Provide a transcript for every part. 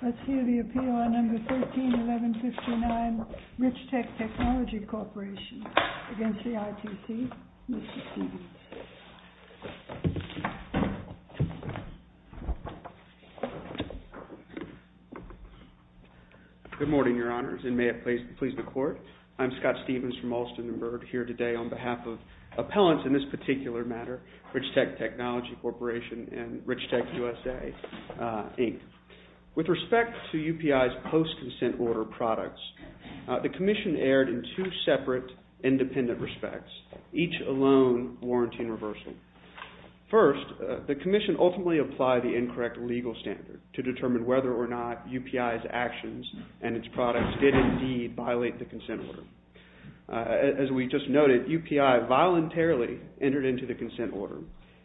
Let's hear the appeal on number 13-1159, RICHTEK TECHNOLOGY CORPORATION against the ITC. Mr. Stephens. Good morning, Your Honors, and may it please the Court, I'm Scott Stephens from Alston & Byrd here today on behalf of appellants in this particular matter, RICHTEK TECHNOLOGY CORPORATION and RICHTEK USA, Inc. With respect to UPI's post-consent order products, the Commission erred in two separate, independent respects, each alone warranting reversal. First, the Commission ultimately applied the incorrect legal standard to determine whether or not UPI's post-consent order,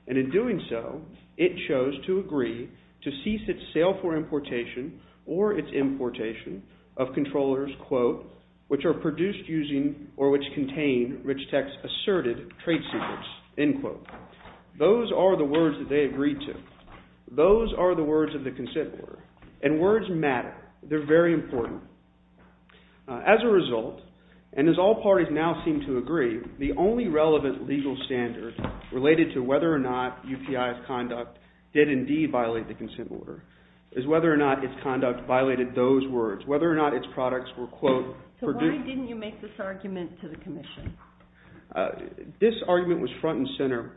and in doing so, it chose to agree to cease its sale for importation or its importation of controllers, quote, which are produced using or which contain RICHTEK's asserted trade secrets, end quote. Those are the words that they agreed to. Those are the words of the consent order. And words matter. They're very important. As a result, and as all parties now seem to agree, the only relevant legal standard related to whether or not UPI's conduct did indeed violate the consent order is whether or not its conduct violated those words, whether or not its products were, quote, produced. So why didn't you make this argument to the Commission? This argument was front and center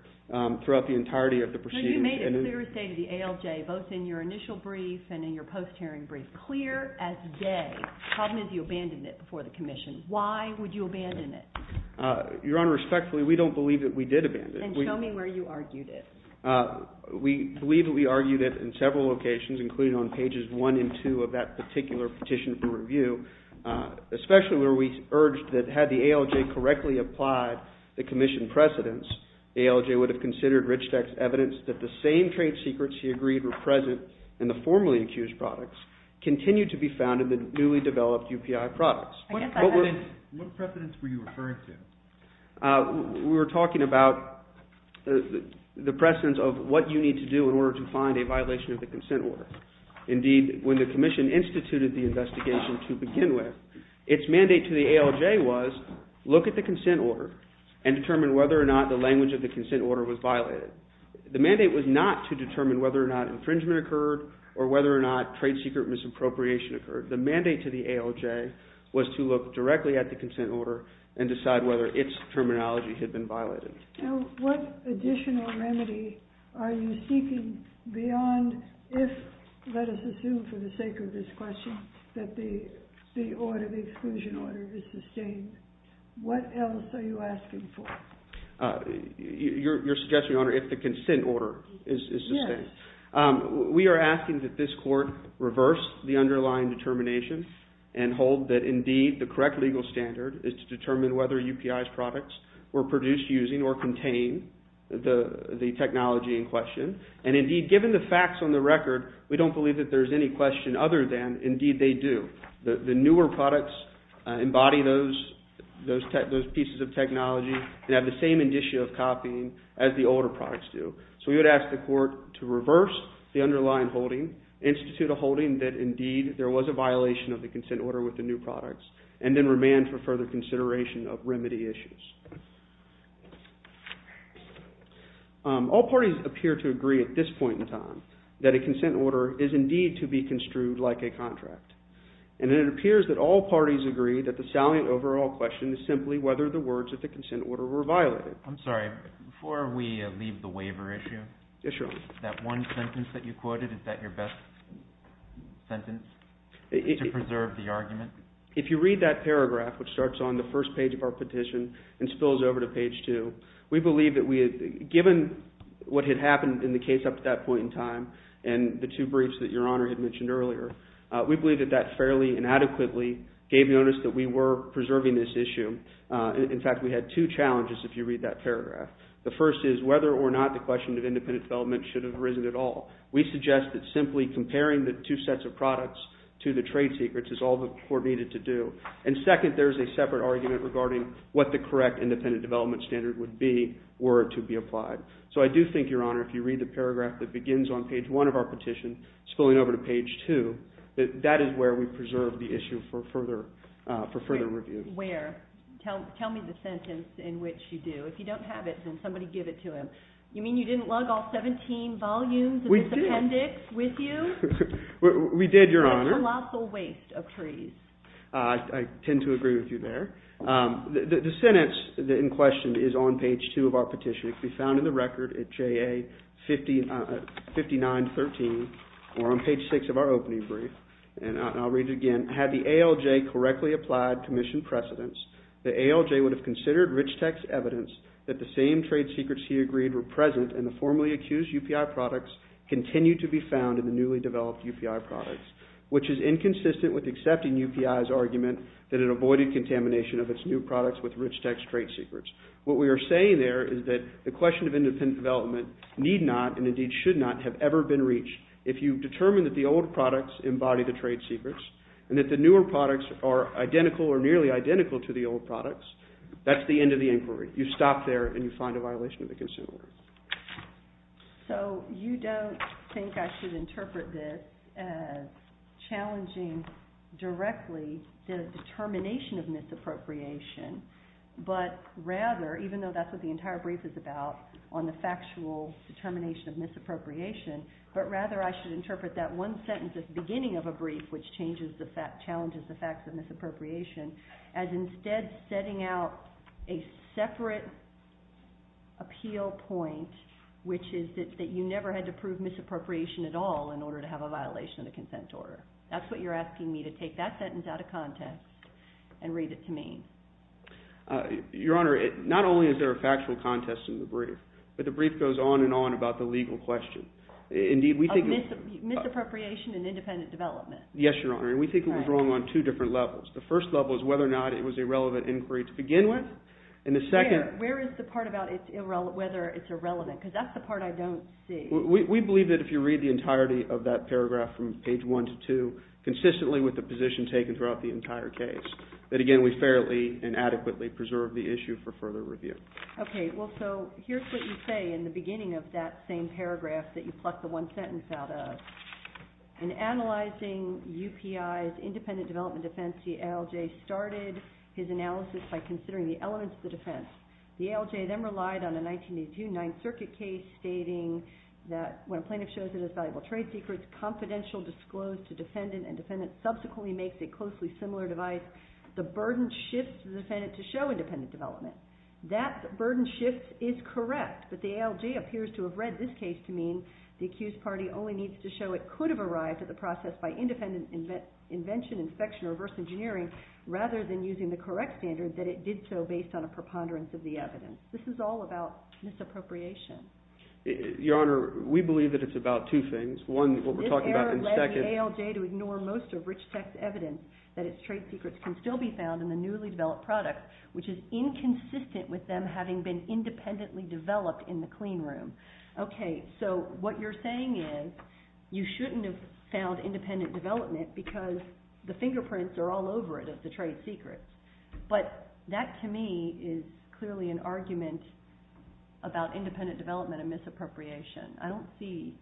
throughout the entirety of the proceedings. You made it clear as day to the ALJ, both in your initial brief and in your post-hearing brief, clear as day. The problem is you abandoned it before the Commission. Why would you abandon it? Your Honor, respectfully, we don't believe that we did abandon it. Then show me where you argued it. We believe that we argued it in several locations, including on pages 1 and 2 of that particular petition for review, especially where we urged that had the ALJ correctly applied the Commission precedents, the ALJ would have considered Rich Tech's evidence that the same trade secrets he agreed were present in the formerly accused products continued to be found in the newly developed UPI products. What precedents were you referring to? We were talking about the precedents of what you need to do in order to find a violation of the consent order. Indeed, when the Commission instituted the investigation to begin with, its mandate to the ALJ was look at the consent order and determine whether or not the language of the consent order was violated. The mandate was not to determine whether or not infringement occurred or whether or not trade secret misappropriation occurred. The mandate to the ALJ was to look directly at the consent order and decide whether its terminology had been violated. Now, what additional remedy are you seeking beyond if, let us assume for the sake of this question, that the order, the exclusion order is sustained? What else are you asking for? Your suggestion, Your Honor, if the consent order is sustained? Yes. We are asking that this Court reverse the underlying determination and hold that, indeed, the correct legal standard is to determine whether UPI's products were produced using or contain the technology in question. And, indeed, given the facts on the record, we don't believe that there is any question other than, indeed, they do. The newer products embody those pieces of technology and have the same indicia of copying as the older products do. So we would ask the Court to reverse the underlying holding, institute a holding that, indeed, there was a violation of the consent order with the new products, and then remand for further consideration of remedy issues. All parties appear to agree at this point in time that a consent order is, indeed, to be construed like a contract. And it appears that all parties agree that the salient overall question is simply whether the words of the consent order were violated. I'm sorry. Before we leave the waiver issue, that one sentence that you quoted, is that your best sentence to preserve the argument? If you read that paragraph, which starts on the first page of our petition and spills over to page 2, we believe that we had, given what had happened in the case up to that point in time and the two briefs that Your Honor had mentioned earlier, we believe that that fairly and adequately gave notice that we were The first is whether or not the question of independent development should have arisen at all. We suggest that simply comparing the two sets of products to the trade secrets is all the Court needed to do. And second, there is a separate argument regarding what the correct independent development standard would be were it to be applied. So I do think, Your Honor, if you read the paragraph that begins on page 1 of our petition, spilling over to page 2, that that is where we preserve the issue for further review. Where? Tell me the sentence in which you do. If you don't have it, then somebody give it to him. You mean you didn't lug all 17 volumes of this appendix with you? We did, Your Honor. A colossal waste of trees. I tend to agree with you there. The sentence in question is on page 2 of our petition. It can be found in the record at JA 5913 or on page 6 of our opening brief. And I'll read it again. Had the ALJ correctly applied commission precedence, the ALJ would have considered Rich Tech's evidence that the same trade secrets he agreed were present in the formally accused UPI products continued to be found in the newly developed UPI products, which is inconsistent with accepting UPI's argument that it avoided contamination of its new products with Rich Tech's trade secrets. What we are saying there is that the question of independent development need not and indeed should not have ever been reached. If you determine that the old products embody the trade secrets and that the newer products are identical or nearly identical to the old products, that's the end of the inquiry. You stop there and you find a violation of the consent order. So you don't think I should interpret this as challenging directly the determination of misappropriation, but rather, even though that's what the entire brief is about, on the factual determination of misappropriation, but rather I should interpret that one sentence at the beginning of a brief, which challenges the facts of misappropriation, as instead setting out a separate appeal point, which is that you never had to prove misappropriation at all in order to have a violation of the consent order. That's what you're asking me to take that sentence out of context and read it to me. Your Honor, not only is there a factual contest in the brief, but the brief goes on and on about the legal question. Indeed, we think… Misappropriation and independent development. Yes, Your Honor, and we think it was wrong on two different levels. The first level is whether or not it was a relevant inquiry to begin with, and the second… Where is the part about whether it's irrelevant, because that's the part I don't see. We believe that if you read the entirety of that paragraph from page one to two, consistently with the position taken throughout the entire case, that again, we fairly and adequately preserve the issue for further review. Okay, well, so here's what you say in the beginning of that same paragraph that you plucked the one sentence out of. In analyzing UPI's independent development defense, the ALJ started his analysis by considering the elements of the defense. The ALJ then relied on a 1982 Ninth Circuit case stating that when a plaintiff shows that his valuable trade secret is confidential, disclosed to defendant, and defendant subsequently makes a closely similar device, the burden shifts the defendant to show independent development. That burden shift is correct, but the ALJ appears to have read this case to mean the accused party only needs to show it could have arrived at the process by independent invention, inspection, or reverse engineering, rather than using the correct standard that it did so based on a preponderance of the evidence. This is all about misappropriation. Your Honor, we believe that it's about two things. One, what we're talking about, and second… Okay, so what you're saying is you shouldn't have found independent development because the fingerprints are all over it of the trade secret. But that, to me, is clearly an argument about independent development and misappropriation. I don't see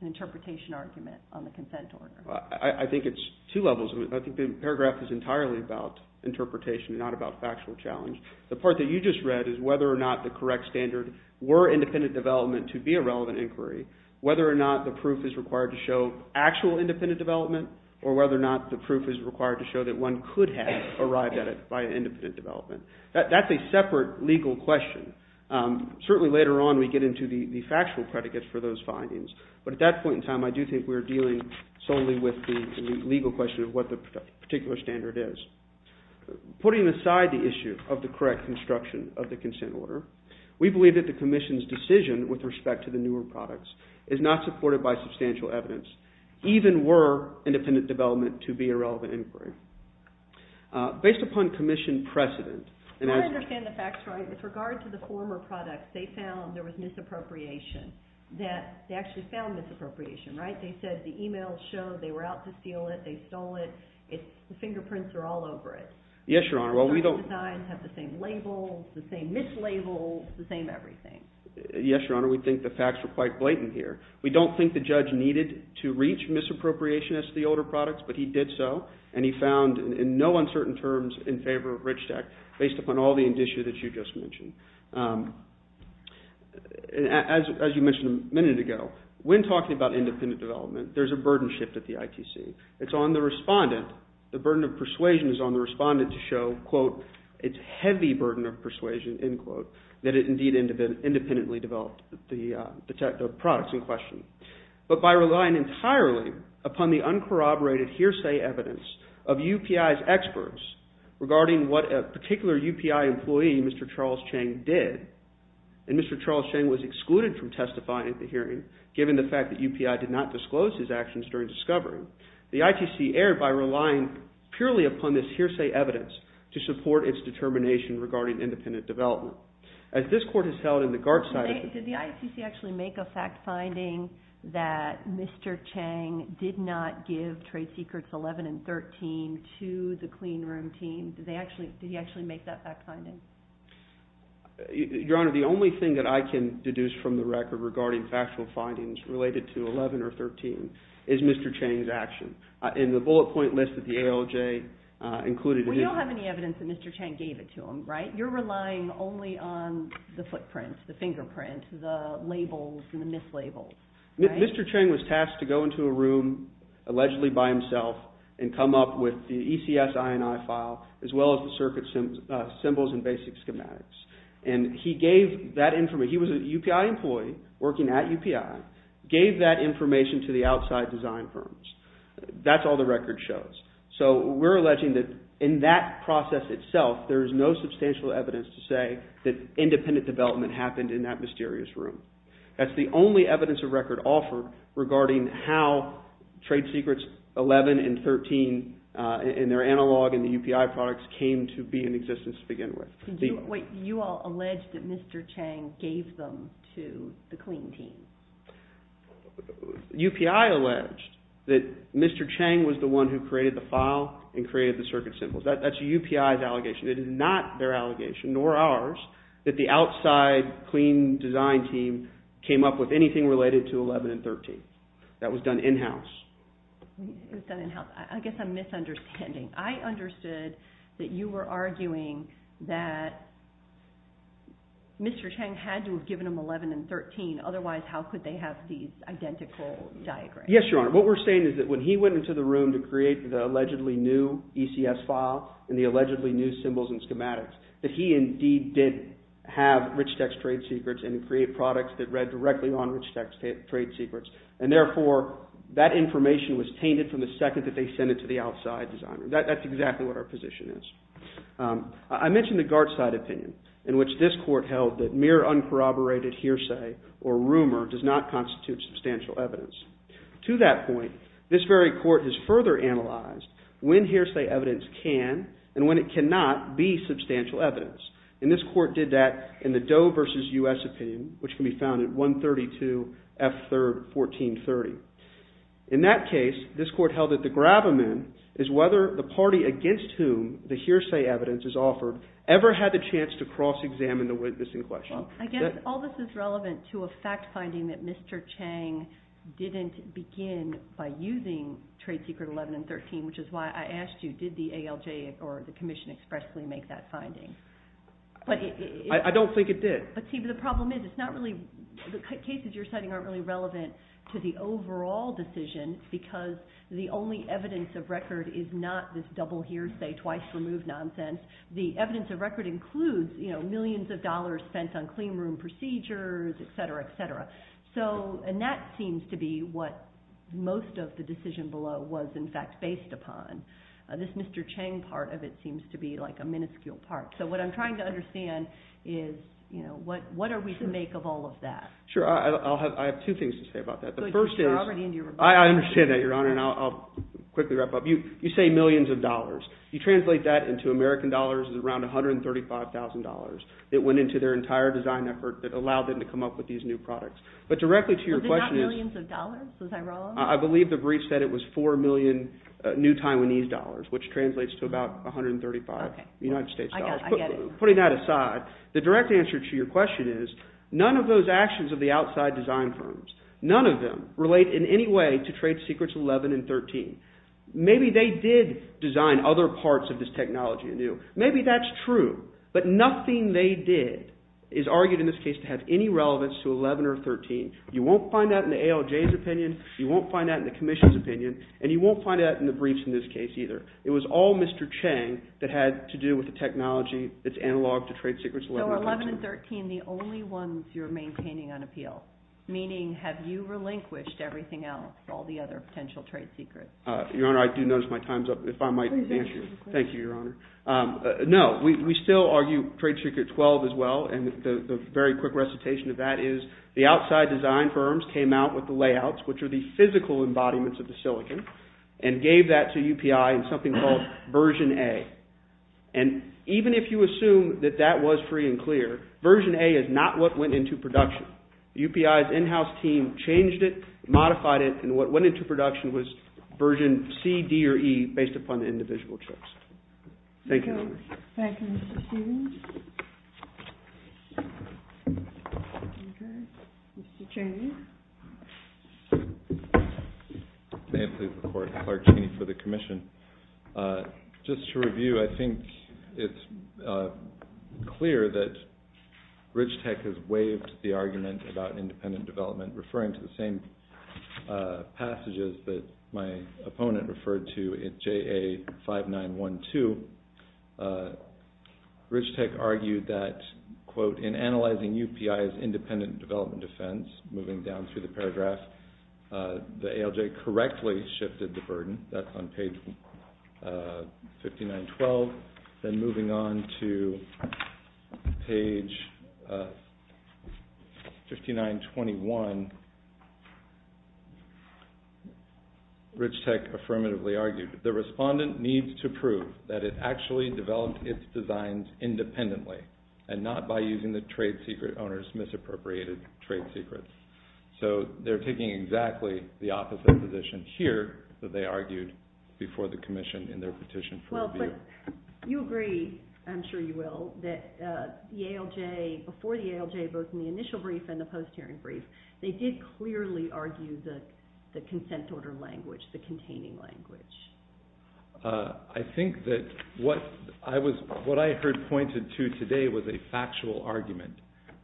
an interpretation argument on the consent order. I think it's two levels. I think the paragraph is entirely about interpretation, not about factual challenge. The part that you just read is whether or not the correct standard were independent development to be a relevant inquiry, whether or not the proof is required to show actual independent development, or whether or not the proof is required to show that one could have arrived at it by independent development. That's a separate legal question. Certainly later on we get into the factual predicates for those findings, but at that point in time I do think we're dealing solely with the legal question of what the particular standard is. Putting aside the issue of the correct construction of the consent order, we believe that the Commission's decision with respect to the newer products is not supported by substantial evidence, even were independent development to be a relevant inquiry. Based upon Commission precedent... I understand the facts, right? With regard to the former products, they found there was misappropriation. They actually found misappropriation, right? They said the e-mails showed they were out to steal it, they stole it, the fingerprints are all over it. Yes, Your Honor. The designs have the same label, the same mislabel, the same everything. Yes, Your Honor. We think the facts are quite blatant here. We don't think the judge needed to reach misappropriation as to the older products, but he did so, and he found in no uncertain terms in favor of RICHTEC based upon all the indicia that you just mentioned. As you mentioned a minute ago, when talking about independent development, there's a burden shift at the ITC. It's on the respondent. The burden of persuasion is on the respondent to show, quote, its heavy burden of persuasion, end quote, that it indeed independently developed the products in question. But by relying entirely upon the uncorroborated hearsay evidence of UPI's experts regarding what a particular UPI employee, Mr. Charles Chang, did, and Mr. Charles Chang was excluded from testifying at the hearing given the fact that UPI did not disclose his actions during discovery, the ITC erred by relying purely upon this hearsay evidence to support its determination regarding independent development. Did the ITC actually make a fact finding that Mr. Chang did not give trade secrets 11 and 13 to the clean room team? Did he actually make that fact finding? Your Honor, the only thing that I can deduce from the record regarding factual findings related to 11 or 13 is Mr. Chang's action. In the bullet point list that the ALJ included in it. But you don't have any evidence that Mr. Chang gave it to them, right? You're relying only on the footprint, the fingerprint, the labels and the mislabeled, right? Mr. Chang was tasked to go into a room, allegedly by himself, and come up with the ECS INI file as well as the circuit symbols and basic schematics. And he gave that information, he was a UPI employee working at UPI, gave that information to the outside design firms. That's all the record shows. So we're alleging that in that process itself there is no substantial evidence to say that independent development happened in that mysterious room. That's the only evidence of record offered regarding how trade secrets 11 and 13 and their analog and the UPI products came to be in existence to begin with. You all allege that Mr. Chang gave them to the clean team. UPI alleged that Mr. Chang was the one who created the file and created the circuit symbols. That's UPI's allegation. It is not their allegation, nor ours, that the outside clean design team came up with anything related to 11 and 13. That was done in-house. It was done in-house. I guess I'm misunderstanding. I understood that you were arguing that Mr. Chang had to have given them 11 and 13, otherwise how could they have these identical diagrams? Yes, Your Honor. What we're saying is that when he went into the room to create the allegedly new ECS file and the allegedly new symbols and schematics, that he indeed did have rich text trade secrets and create products that read directly on rich text trade secrets. And therefore that information was tainted from the second that they sent it to the outside designer. That's exactly what our position is. I mentioned the Gartzite opinion in which this court held that mere uncorroborated hearsay or rumor does not constitute substantial evidence. To that point, this very court has further analyzed when hearsay evidence can and when it cannot be substantial evidence. And this court did that in the Doe v. U.S. opinion, which can be found at 132 F. 3rd, 1430. In that case, this court held that the gravamen is whether the party against whom the hearsay evidence is offered ever had the chance to cross-examine the witness in question. I guess all this is relevant to a fact finding that Mr. Chang didn't begin by using trade secret 11 and 13, which is why I asked you, did the ALJ or the commission expressly make that finding? I don't think it did. But see, the problem is it's not really – the cases you're citing aren't really relevant to the overall decision because the only evidence of record is not this double hearsay twice removed nonsense. The evidence of record includes millions of dollars spent on cleanroom procedures, etc., etc. And that seems to be what most of the decision below was in fact based upon. This Mr. Chang part of it seems to be like a minuscule part. So what I'm trying to understand is what are we to make of all of that? Sure, I have two things to say about that. I understand that, Your Honor, and I'll quickly wrap up. You say millions of dollars. You translate that into American dollars is around $135,000 that went into their entire design effort that allowed them to come up with these new products. But directly to your question is – Was it not millions of dollars? Was I wrong? I believe the brief said it was $4 million new Taiwanese dollars, which translates to about $135,000 United States dollars. I get it. Putting that aside, the direct answer to your question is none of those actions of the outside design firms, none of them relate in any way to trade secrets 11 and 13. Maybe they did design other parts of this technology anew. Maybe that's true, but nothing they did is argued in this case to have any relevance to 11 or 13. You won't find that in the ALJ's opinion. You won't find that in the commission's opinion, and you won't find that in the briefs in this case either. It was all Mr. Chang that had to do with the technology that's analog to trade secrets 11 and 13. the only ones you're maintaining on appeal, meaning have you relinquished everything else, all the other potential trade secrets? Your Honor, I do notice my time's up. If I might answer your question. Please answer your question. Thank you, Your Honor. No, we still argue trade secret 12 as well, and the very quick recitation of that is the outside design firms came out with the layouts, which are the physical embodiments of the silicon, and gave that to UPI in something called version A. And even if you assume that that was free and clear, version A is not what went into production. UPI's in-house team changed it, modified it, and what went into production was version C, D, or E based upon the individual checks. Thank you, Your Honor. Thank you, Mr. Stevens. Mr. Chang. May it please the Court, Clark Cheney for the commission. Just to review, I think it's clear that Rich Tech has waived the argument about independent development, referring to the same passages that my opponent referred to in JA 5912. Rich Tech argued that, quote, in analyzing UPI's independent development defense, moving down through the paragraph, the ALJ correctly shifted the burden. That's on page 5912. Then moving on to page 5921, Rich Tech affirmatively argued, the respondent needs to prove that it actually developed its designs independently and not by using the trade secret owner's misappropriated trade secrets. So they're taking exactly the opposite position here that they argued before the commission in their petition for review. Well, but you agree, I'm sure you will, that the ALJ, before the ALJ, both in the initial brief and the post-hearing brief, they did clearly argue the consent order language, the containing language. I think that what I heard pointed to today was a factual argument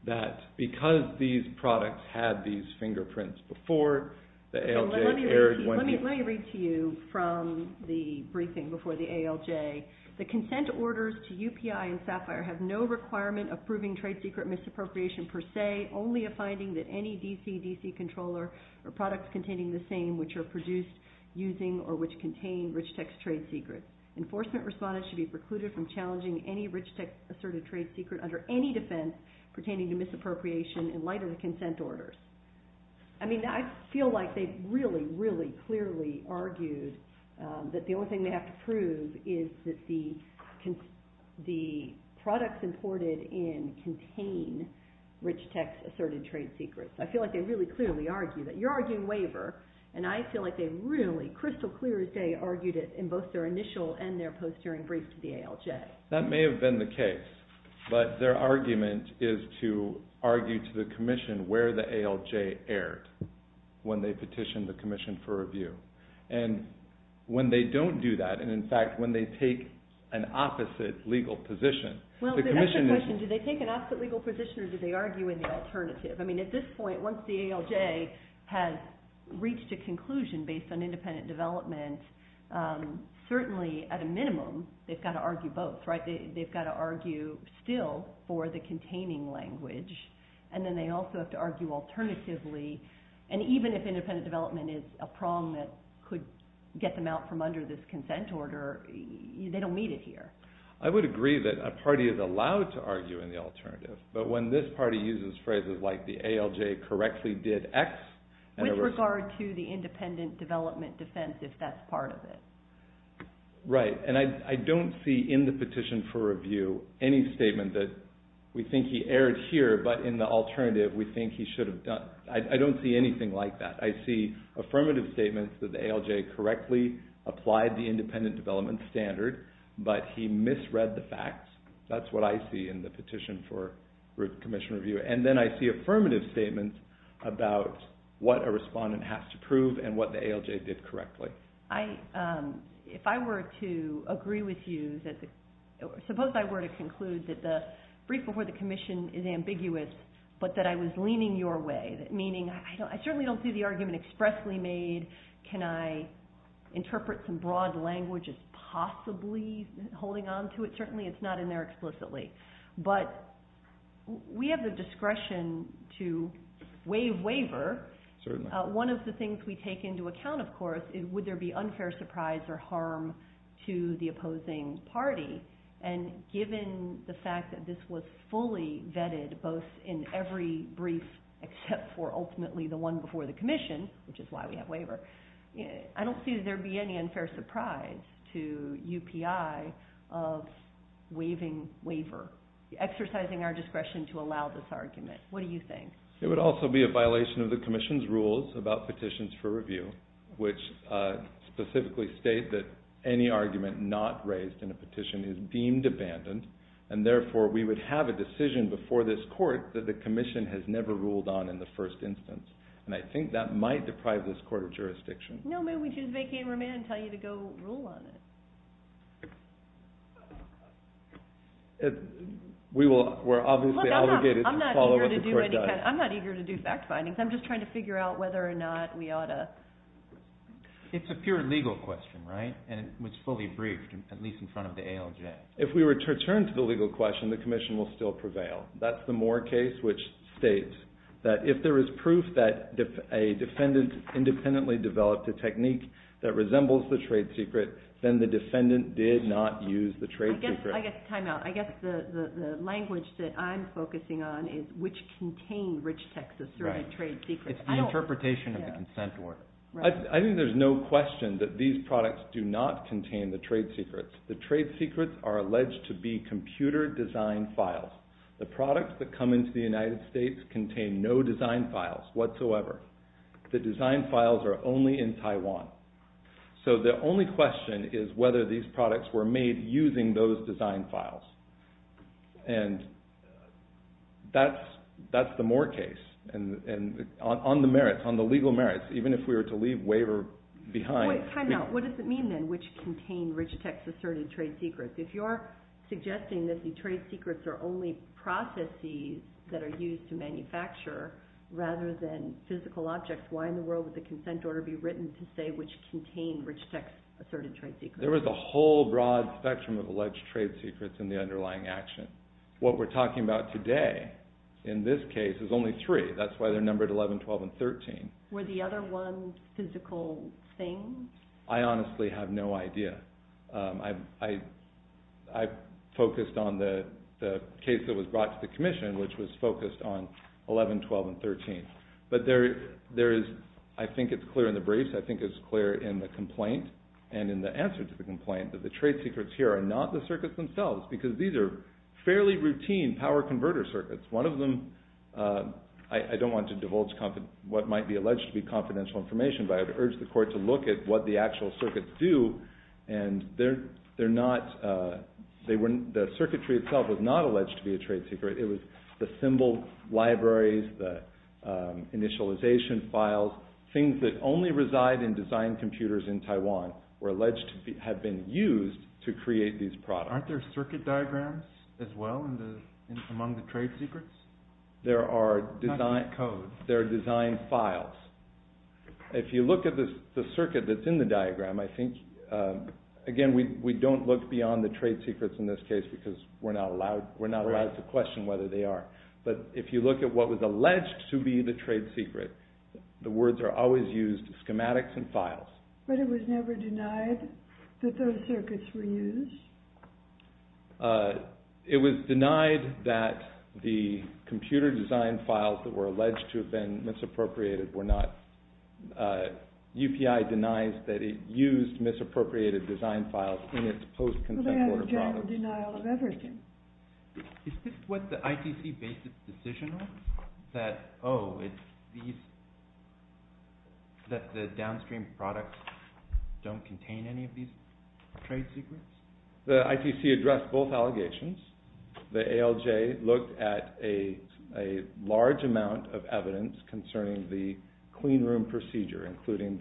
that because these products had these fingerprints before, the ALJ erred. Let me read to you from the briefing before the ALJ. The consent orders to UPI and SAFIRE have no requirement of proving trade secret misappropriation per se, only a finding that any DCDC controller or products containing the same, which are produced using or which contain Rich Tech's trade secrets. Enforcement respondents should be precluded from challenging any Rich Tech-asserted trade secret under any defense pertaining to misappropriation in light of the consent orders. I mean, I feel like they really, really clearly argued that the only thing they have to prove is that the products imported in contain Rich Tech's asserted trade secrets. I feel like they really clearly argued that. You're arguing waiver, and I feel like they really crystal clear as day argued it in both their initial and their post-hearing brief to the ALJ. That may have been the case, but their argument is to argue to the commission where the ALJ erred when they petitioned the commission for review. And when they don't do that, and in fact, when they take an opposite legal position, Well, that's the question. Do they take an opposite legal position, or do they argue in the alternative? I mean, at this point, once the ALJ has reached a conclusion based on independent development, certainly at a minimum, they've got to argue both, right? They've got to argue still for the containing language, and then they also have to argue alternatively. And even if independent development is a prong that could get them out from under this consent order, they don't meet it here. I would agree that a party is allowed to argue in the alternative, but when this party uses phrases like the ALJ correctly did X, With regard to the independent development defense, if that's part of it. Right, and I don't see in the petition for review any statement that we think he erred here, but in the alternative we think he should have done. I don't see anything like that. I see affirmative statements that the ALJ correctly applied the independent development standard, but he misread the facts. That's what I see in the petition for commission review. And then I see affirmative statements about what a respondent has to prove and what the ALJ did correctly. If I were to agree with you, suppose I were to conclude that the brief before the commission is ambiguous, but that I was leaning your way, meaning I certainly don't see the argument expressly made. Can I interpret some broad language as possibly holding on to it? Certainly it's not in there explicitly. But we have the discretion to waive waiver. Certainly. One of the things we take into account, of course, is would there be unfair surprise or harm to the opposing party? And given the fact that this was fully vetted both in every brief except for ultimately the one before the commission, which is why we have waiver, I don't see that there would be any unfair surprise to UPI of waiving waiver, exercising our discretion to allow this argument. What do you think? It would also be a violation of the commission's rules about petitions for review, which specifically state that any argument not raised in a petition is deemed abandoned, and therefore we would have a decision before this court that the commission has never ruled on in the first instance. And I think that might deprive this court of jurisdiction. No, maybe we can just vacate and remand and tell you to go rule on it. We're obviously obligated to follow what the court does. I'm not eager to do fact findings. I'm just trying to figure out whether or not we ought to. It's a pure legal question, right? And it's fully briefed, at least in front of the ALJ. If we return to the legal question, the commission will still prevail. That's the Moore case, which states that if there is proof that a defendant independently developed a technique that resembles the trade secret, then the defendant did not use the trade secret. I guess time out. I guess the language that I'm focusing on is which contain rich Texas servant trade secrets. It's the interpretation of the consent order. I think there's no question that these products do not contain the trade secrets. The trade secrets are alleged to be computer designed files. The products that come into the United States contain no design files whatsoever. The design files are only in Taiwan. So the only question is whether these products were made using those design files. And that's the Moore case. And on the merits, on the legal merits, even if we were to leave waiver behind. Wait, time out. What does it mean then, which contain rich Texas servant trade secrets? If you're suggesting that the trade secrets are only processes that are used to manufacture rather than physical objects, why in the world would the consent order be written to say which contain rich Texas servant trade secrets? There was a whole broad spectrum of alleged trade secrets in the underlying action. What we're talking about today in this case is only three. That's why they're numbered 11, 12, and 13. Were the other ones physical things? I honestly have no idea. I focused on the case that was brought to the commission, which was focused on 11, 12, and 13. But there is, I think it's clear in the briefs, I think it's clear in the complaint and in the answer to the complaint, that the trade secrets here are not the circuits themselves because these are fairly routine power converter circuits. One of them, I don't want to divulge what might be alleged to be confidential information, but I would urge the court to look at what the actual circuits do. The circuitry itself was not alleged to be a trade secret. It was the symbol libraries, the initialization files, things that only reside in design computers in Taiwan were alleged to have been used to create these products. Aren't there circuit diagrams as well among the trade secrets? There are design files. If you look at the circuit that's in the diagram, I think, again, we don't look beyond the trade secrets in this case because we're not allowed to question whether they are. But if you look at what was alleged to be the trade secret, the words are always used, schematics and files. But it was never denied that those circuits were used? It was denied that the computer design files that were alleged to have been misappropriated were not. UPI denies that it used misappropriated design files in its post-consent order products. Well, they have a general denial of everything. Is this what the ITC based its decision on? That the downstream products don't contain any of these trade secrets? The ITC addressed both allegations. The ALJ looked at a large amount of evidence concerning the cleanroom procedure, including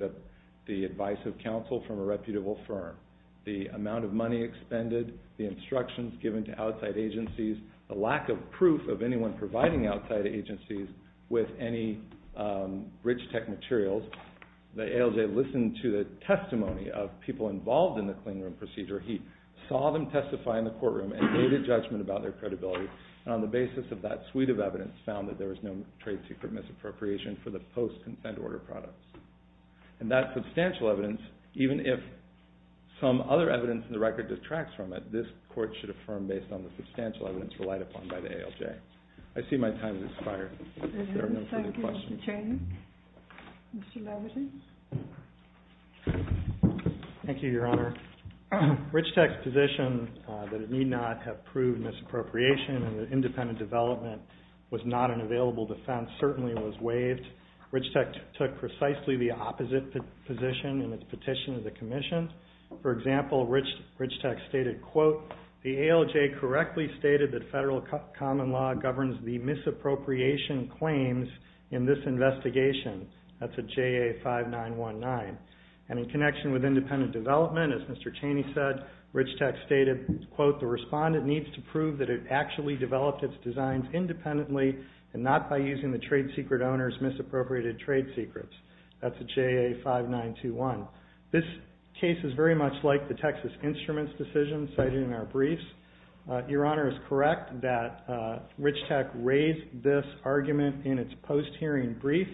the advice of counsel from a reputable firm, the amount of money expended, the instructions given to outside agencies, the lack of proof of anyone providing outside agencies with any rich tech materials. The ALJ listened to the testimony of people involved in the cleanroom procedure. He saw them testify in the courtroom and made a judgment about their credibility, and on the basis of that suite of evidence found that there was no trade secret misappropriation for the post-consent order products. And that substantial evidence, even if some other evidence in the record detracts from it, this court should affirm based on the substantial evidence relied upon by the ALJ. I see my time has expired. Thank you, Mr. Chairman. Mr. Levitan. Thank you, Your Honor. Rich Tech's position that it need not have proved misappropriation and that independent development was not an available defense certainly was waived. Rich Tech took precisely the opposite position in its petition to the commission. For example, Rich Tech stated, quote, the ALJ correctly stated that federal common law governs the misappropriation claims in this investigation. That's a JA-5919. And in connection with independent development, as Mr. Chaney said, Rich Tech stated, quote, the respondent needs to prove that it actually developed its designs independently and not by using the trade secret owner's misappropriated trade secrets. That's a JA-5921. This case is very much like the Texas Instruments decision cited in our briefs. Your Honor is correct that Rich Tech raised this argument in its post-hearing brief,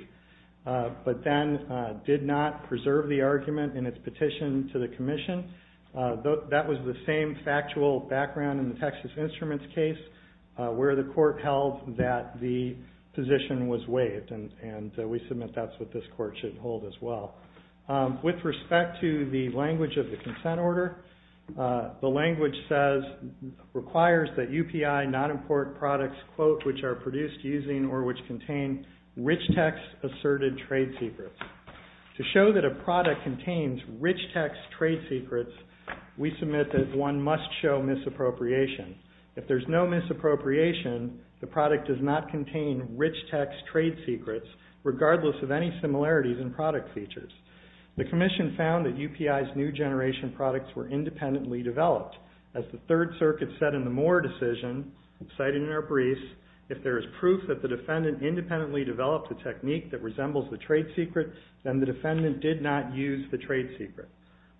but then did not preserve the argument in its petition to the commission. That was the same factual background in the Texas Instruments case where the court held that the position was waived, and we submit that's what this court should hold as well. With respect to the language of the consent order, the language says, requires that UPI not import products, quote, which are produced using or which contain Rich Tech's asserted trade secrets. To show that a product contains Rich Tech's trade secrets, we submit that one must show misappropriation. If there's no misappropriation, the product does not contain Rich Tech's trade secrets, regardless of any similarities in product features. The commission found that UPI's new generation products were independently developed. As the Third Circuit said in the Moore decision, citing in our briefs, if there is proof that the defendant independently developed a technique that resembles the trade secret, then the defendant did not use the trade secret.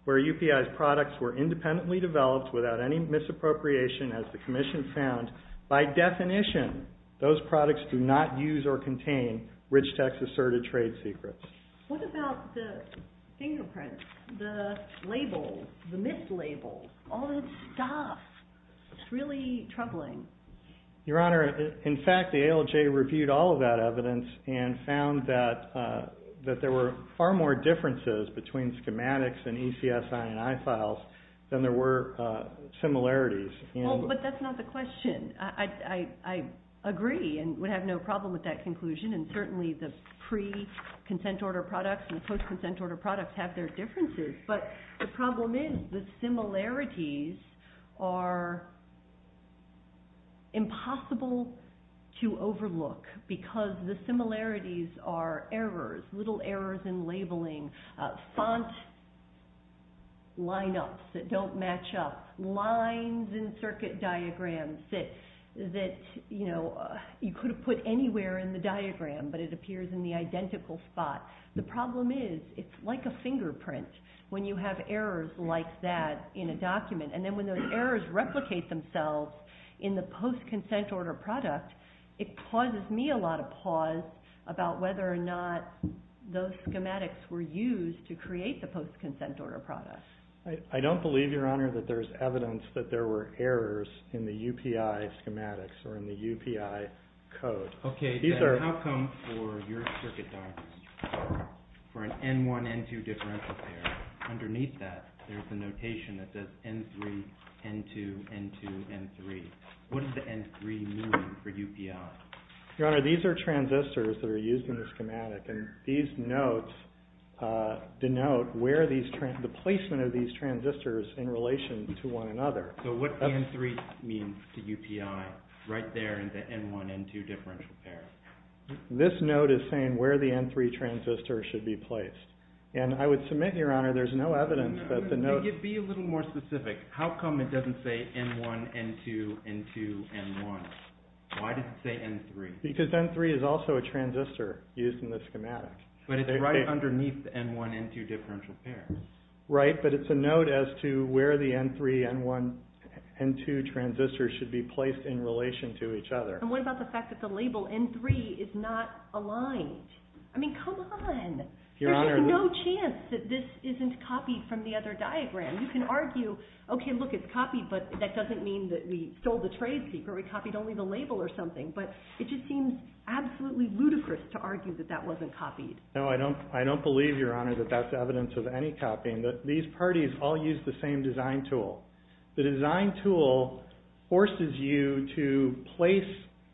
Where UPI's products were independently developed without any misappropriation, as the commission found, by definition, those products do not use or contain Rich Tech's asserted trade secrets. What about the fingerprints, the label, the mislabel, all that stuff? It's really troubling. Your Honor, in fact, the ALJ reviewed all of that evidence and found that there were far more differences between schematics and ECS INI files than there were similarities. Well, but that's not the question. I agree and would have no problem with that conclusion, and certainly the pre-consent order products and the post-consent order products have their differences. But the problem is the similarities are impossible to overlook, because the similarities are errors, little errors in labeling, font lineups that don't match up, lines in circuit diagrams that you could have put anywhere in the diagram, but it appears in the identical spot. The problem is it's like a fingerprint when you have errors like that in a document, and then when those errors replicate themselves in the post-consent order product, it causes me a lot of pause about whether or not those schematics were used to create the post-consent order product. I don't believe, Your Honor, that there's evidence that there were errors in the UPI schematics or in the UPI code. Okay, then how come for your circuit diagrams, for an N1, N2 differential there, underneath that there's a notation that says N3, N2, N2, N3. What does the N3 mean for UPI? Your Honor, these are transistors that are used in the schematic, and these notes denote the placement of these transistors in relation to one another. So what N3 means to UPI right there in the N1, N2 differential pair? This note is saying where the N3 transistor should be placed, and I would submit, Your Honor, there's no evidence that the note... Be a little more specific. How come it doesn't say N1, N2, N2, N1? Why does it say N3? Because N3 is also a transistor used in the schematic. But it's right underneath the N1, N2 differential pair. Right, but it's a note as to where the N3, N1, N2 transistors should be placed in relation to each other. And what about the fact that the label N3 is not aligned? I mean, come on. There's no chance that this isn't copied from the other diagram. You can argue, okay, look, it's copied, but that doesn't mean that we stole the trade secret, we copied only the label or something. But it just seems absolutely ludicrous to argue that that wasn't copied. No, I don't believe, Your Honor, that that's evidence of any copying. These parties all use the same design tool. The design tool forces you to place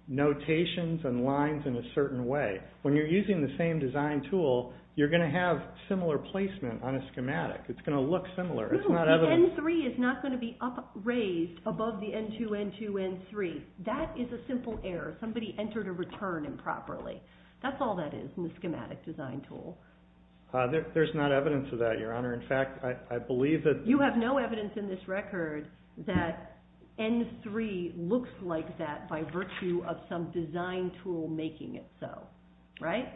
notations and lines in a certain way. When you're using the same design tool, you're going to have similar placement on a schematic. It's going to look similar. It's not evidence. No, the N3 is not going to be raised above the N2, N2, N3. That is a simple error. Somebody entered a return improperly. That's all that is in the schematic design tool. There's not evidence of that, Your Honor. In fact, I believe that— You have no evidence in this record that N3 looks like that by virtue of some design tool making it so, right?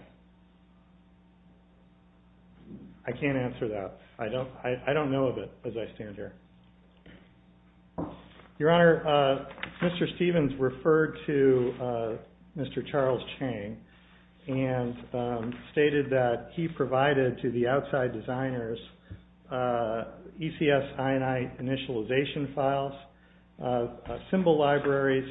I can't answer that. I don't know of it as I stand here. Your Honor, Mr. Stevens referred to Mr. Charles Chang and stated that he provided to the outside designers ECS INI initialization files, symbol libraries,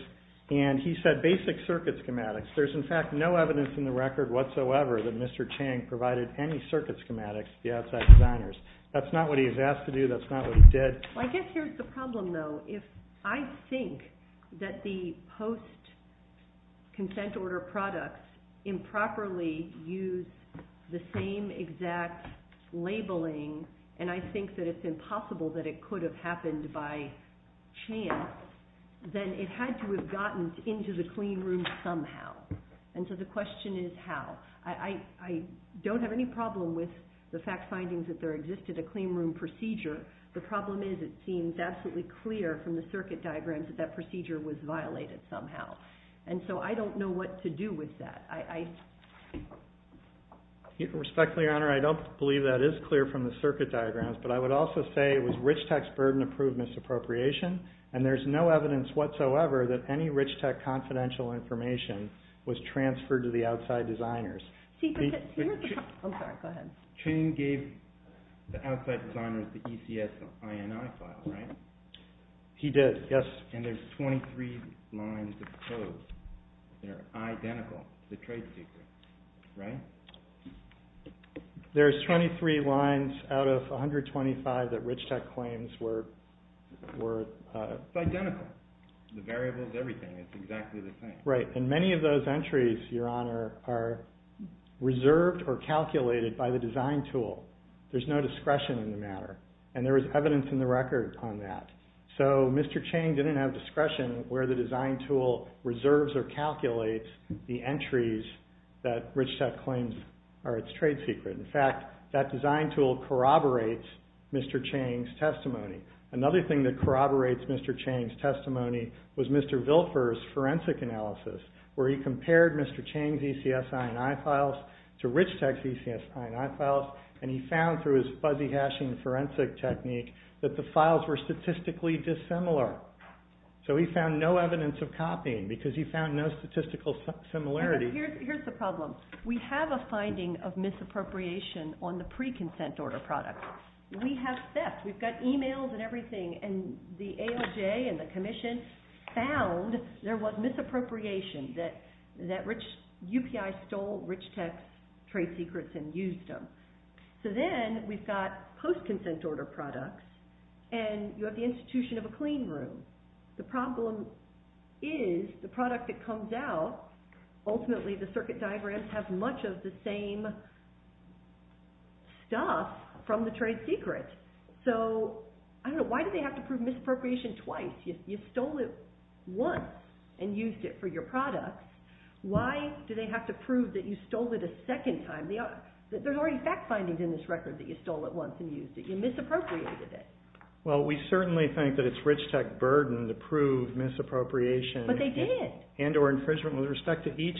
and he said basic circuit schematics. There's, in fact, no evidence in the record whatsoever that Mr. Chang provided any circuit schematics to the outside designers. That's not what he was asked to do. That's not what he did. I guess here's the problem, though. If I think that the post-consent order products improperly use the same exact labeling, and I think that it's impossible that it could have happened by chance, then it had to have gotten into the clean room somehow. And so the question is how. I don't have any problem with the fact findings that there existed a clean room procedure. The problem is it seems absolutely clear from the circuit diagrams that that procedure was violated somehow. And so I don't know what to do with that. Respectfully, Your Honor, I don't believe that is clear from the circuit diagrams. But I would also say it was Rich Tech's burden to prove misappropriation, and there's no evidence whatsoever that any Rich Tech confidential information was transferred to the outside designers. I'm sorry, go ahead. Chang gave the outside designers the ECS INI file, right? He did, yes. And there's 23 lines of code that are identical to the trade secret, right? There's 23 lines out of 125 that Rich Tech claims were… It's identical. The variable is everything. It's exactly the same. Right, and many of those entries, Your Honor, are reserved or calculated by the design tool. There's no discretion in the matter. And there was evidence in the record on that. So Mr. Chang didn't have discretion where the design tool reserves or calculates the entries that Rich Tech claims are its trade secret. In fact, that design tool corroborates Mr. Chang's testimony. Another thing that corroborates Mr. Chang's testimony was Mr. Vilfer's forensic analysis where he compared Mr. Chang's ECS INI files to Rich Tech's ECS INI files, and he found through his fuzzy hashing forensic technique that the files were statistically dissimilar. So he found no evidence of copying because he found no statistical similarity. Here's the problem. We have a finding of misappropriation on the pre-consent order product. We have theft. We've got emails and everything, and the ALJ and the Commission found there was misappropriation, that UPI stole Rich Tech's trade secrets and used them. So then we've got post-consent order products, and you have the institution of a clean room. The problem is the product that comes out, ultimately the circuit diagrams have much of the same stuff from the trade secret. So why do they have to prove misappropriation twice? You stole it once and used it for your product. Why do they have to prove that you stole it a second time? There's already fact findings in this record that you stole it once and used it. You misappropriated it. Well, we certainly think that it's Rich Tech's burden to prove misappropriation and or infringement with respect to each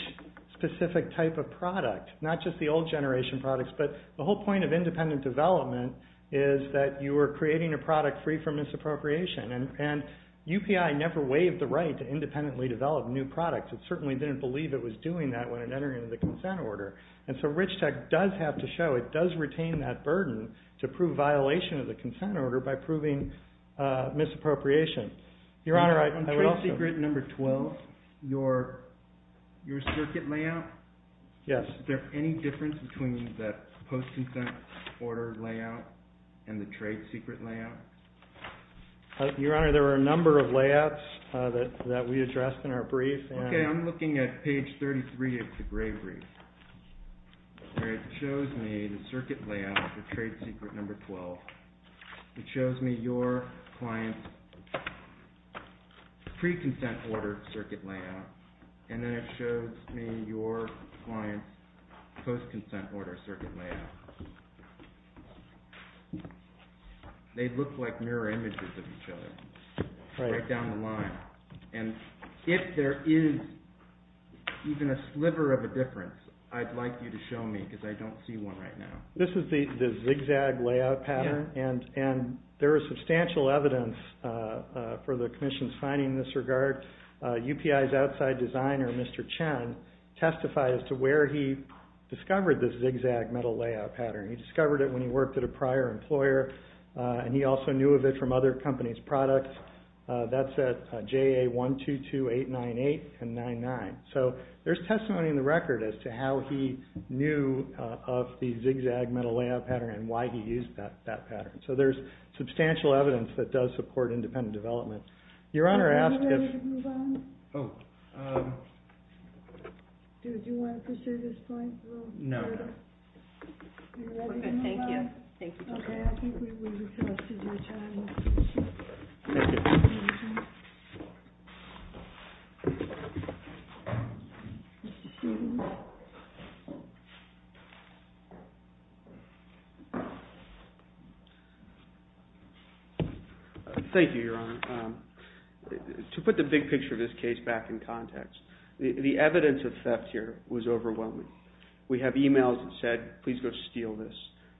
specific type of product, not just the old generation products, but the whole point of independent development is that you are creating a product free from misappropriation. And UPI never waived the right to independently develop new products. It certainly didn't believe it was doing that when it entered into the consent order. And so Rich Tech does have to show it does retain that burden to prove violation of the consent order by proving misappropriation. Your Honor, on trade secret number 12, your circuit layout, is there any difference between the post-consent order layout and the trade secret layout? Your Honor, there are a number of layouts that we addressed in our brief. Okay, I'm looking at page 33 of the gray brief. It shows me the circuit layout for trade secret number 12. It shows me your client's pre-consent order circuit layout. And then it shows me your client's post-consent order circuit layout. They look like mirror images of each other right down the line. And if there is even a sliver of a difference, I'd like you to show me, because I don't see one right now. This is the zigzag layout pattern, and there is substantial evidence for the Commission's finding in this regard. UPI's outside designer, Mr. Chen, testified as to where he discovered this zigzag metal layout pattern. He discovered it when he worked at a prior employer, and he also knew of it from other companies' products. That's at JA122898 and 99. So there's testimony in the record as to how he knew of the zigzag metal layout pattern and why he used that pattern. So there's substantial evidence that does support independent development. Your Honor asked if... Are you ready to move on? Oh. Do you want to pursue this point? No. Are you ready to move on? Okay, thank you. Okay, I think we've exhausted your time. Thank you. Thank you, Your Honor. To put the big picture of this case back in context, the evidence of theft here was overwhelming. We have e-mails that said, please go steal this.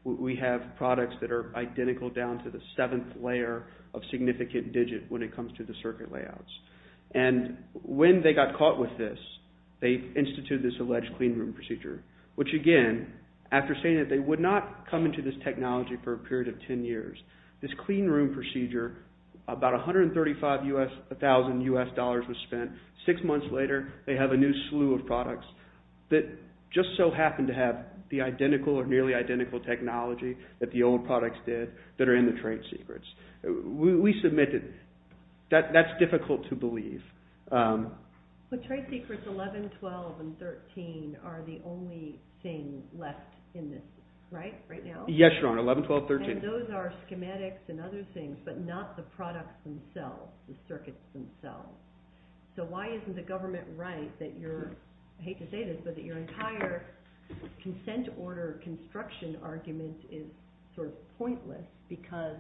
We have products that are identical down to the seventh layer of significant digit when it comes to the circuit layouts. And when they got caught with this, they instituted this alleged cleanroom procedure, which, again, after saying that they would not come into this technology for a period of 10 years, this cleanroom procedure, about $135,000 U.S. dollars was spent. Six months later, they have a new slew of products that just so happen to have the identical or nearly identical technology that the old products did that are in the trade secrets. We submitted... That's difficult to believe. But trade secrets 11, 12, and 13 are the only thing left in this, right, right now? Yes, Your Honor, 11, 12, 13. And those are schematics and other things, but not the products themselves, the circuits themselves. So why isn't the government right that you're... I hate to say this, but that your entire consent order construction argument is sort of pointless because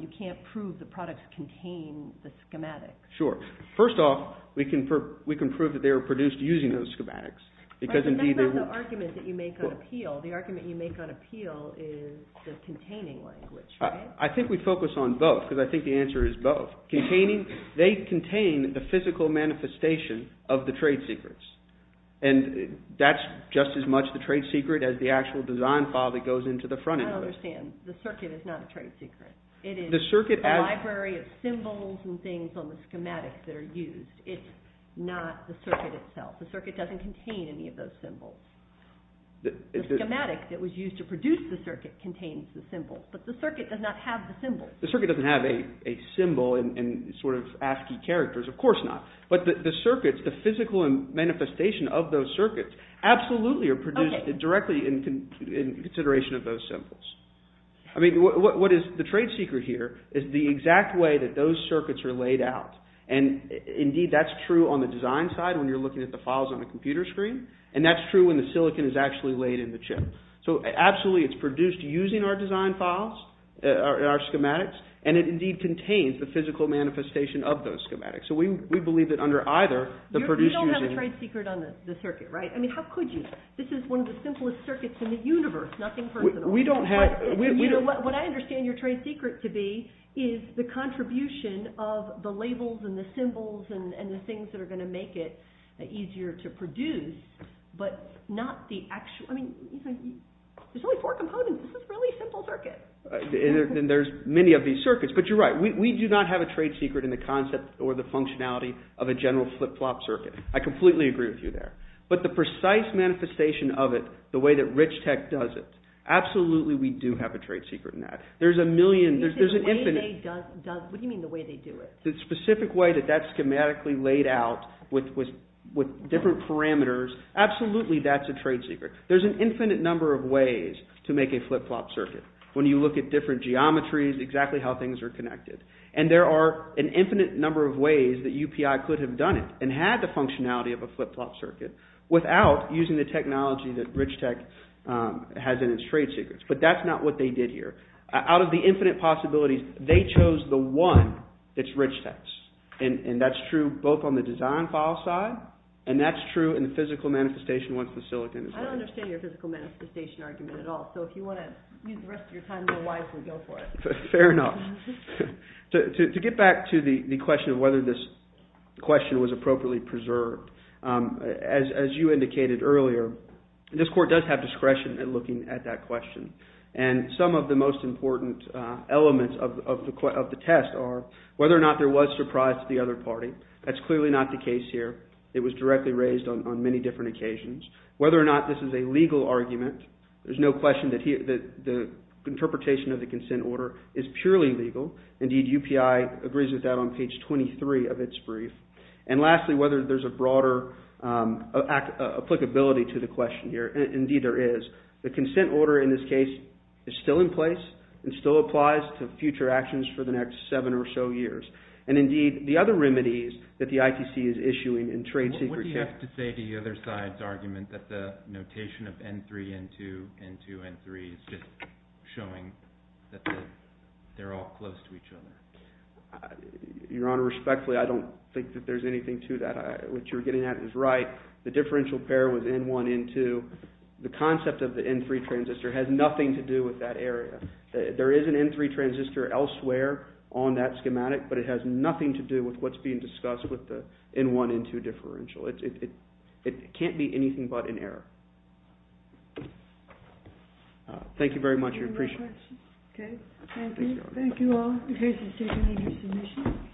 you can't prove the products contain the schematics. Sure. First off, we can prove that they were produced using those schematics. Right, but that's not the argument that you make on appeal. The argument you make on appeal is the containing language, right? I think we focus on both because I think the answer is both. They contain the physical manifestation of the trade secrets, and that's just as much the trade secret as the actual design file that goes into the front end. I don't understand. The circuit is not a trade secret. It is a library of symbols and things on the schematics that are used. It's not the circuit itself. The circuit doesn't contain any of those symbols. The schematic that was used to produce the circuit contains the symbols, but the circuit does not have the symbols. The circuit doesn't have a symbol and sort of ASCII characters. Of course not. But the circuits, the physical manifestation of those circuits, absolutely are produced directly in consideration of those symbols. I mean, what is the trade secret here is the exact way that those circuits are laid out, and indeed that's true on the design side when you're looking at the files on the computer screen, and that's true when the silicon is actually laid in the chip. So absolutely it's produced using our design files, our schematics, and it indeed contains the physical manifestation of those schematics. So we believe that under either, the produced using... You don't have a trade secret on the circuit, right? I mean, how could you? This is one of the simplest circuits in the universe, nothing personal. We don't have... What I understand your trade secret to be is the contribution of the labels and the symbols and the things that are going to make it easier to produce, but not the actual... I mean, there's only four components. This is a really simple circuit. And there's many of these circuits, but you're right. We do not have a trade secret in the concept or the functionality of a general flip-flop circuit. I completely agree with you there. But the precise manifestation of it, the way that Rich Tech does it, absolutely we do have a trade secret in that. There's a million... What do you mean the way they do it? The specific way that that's schematically laid out with different parameters, absolutely that's a trade secret. There's an infinite number of ways to make a flip-flop circuit. When you look at different geometries, exactly how things are connected. And there are an infinite number of ways that UPI could have done it and had the functionality of a flip-flop circuit without using the technology that Rich Tech has in its trade secrets. But that's not what they did here. Out of the infinite possibilities, they chose the one that's Rich Tech's. And that's true both on the design file side, and that's true in the physical manifestation once the silicon is ready. I don't understand your physical manifestation argument at all. So if you want to use the rest of your time, then why don't you go for it? Fair enough. To get back to the question of whether this question was appropriately preserved, as you indicated earlier, this court does have discretion in looking at that question. And some of the most important elements of the test are whether or not there was surprise to the other party. That's clearly not the case here. It was directly raised on many different occasions. Whether or not this is a legal argument, there's no question that the interpretation of the consent order is purely legal. Indeed, UPI agrees with that on page 23 of its brief. And lastly, whether there's a broader applicability to the question here. Indeed, there is. The consent order in this case is still in place and still applies to future actions for the next seven or so years. And indeed, the other remedies that the ITC is issuing in trade secrecy— What do you have to say to the other side's argument that the notation of N3, N2, N2, N3 is just showing that they're all close to each other? Your Honor, respectfully, I don't think that there's anything to that. What you're getting at is right. The differential pair was N1, N2. The concept of the N3 transistor has nothing to do with that area. There is an N3 transistor elsewhere on that schematic, but it has nothing to do with what's being discussed with the N1, N2 differential. It can't be anything but an error. Thank you very much. I appreciate it. Okay. Thank you. Thank you all. The case is taken into submission.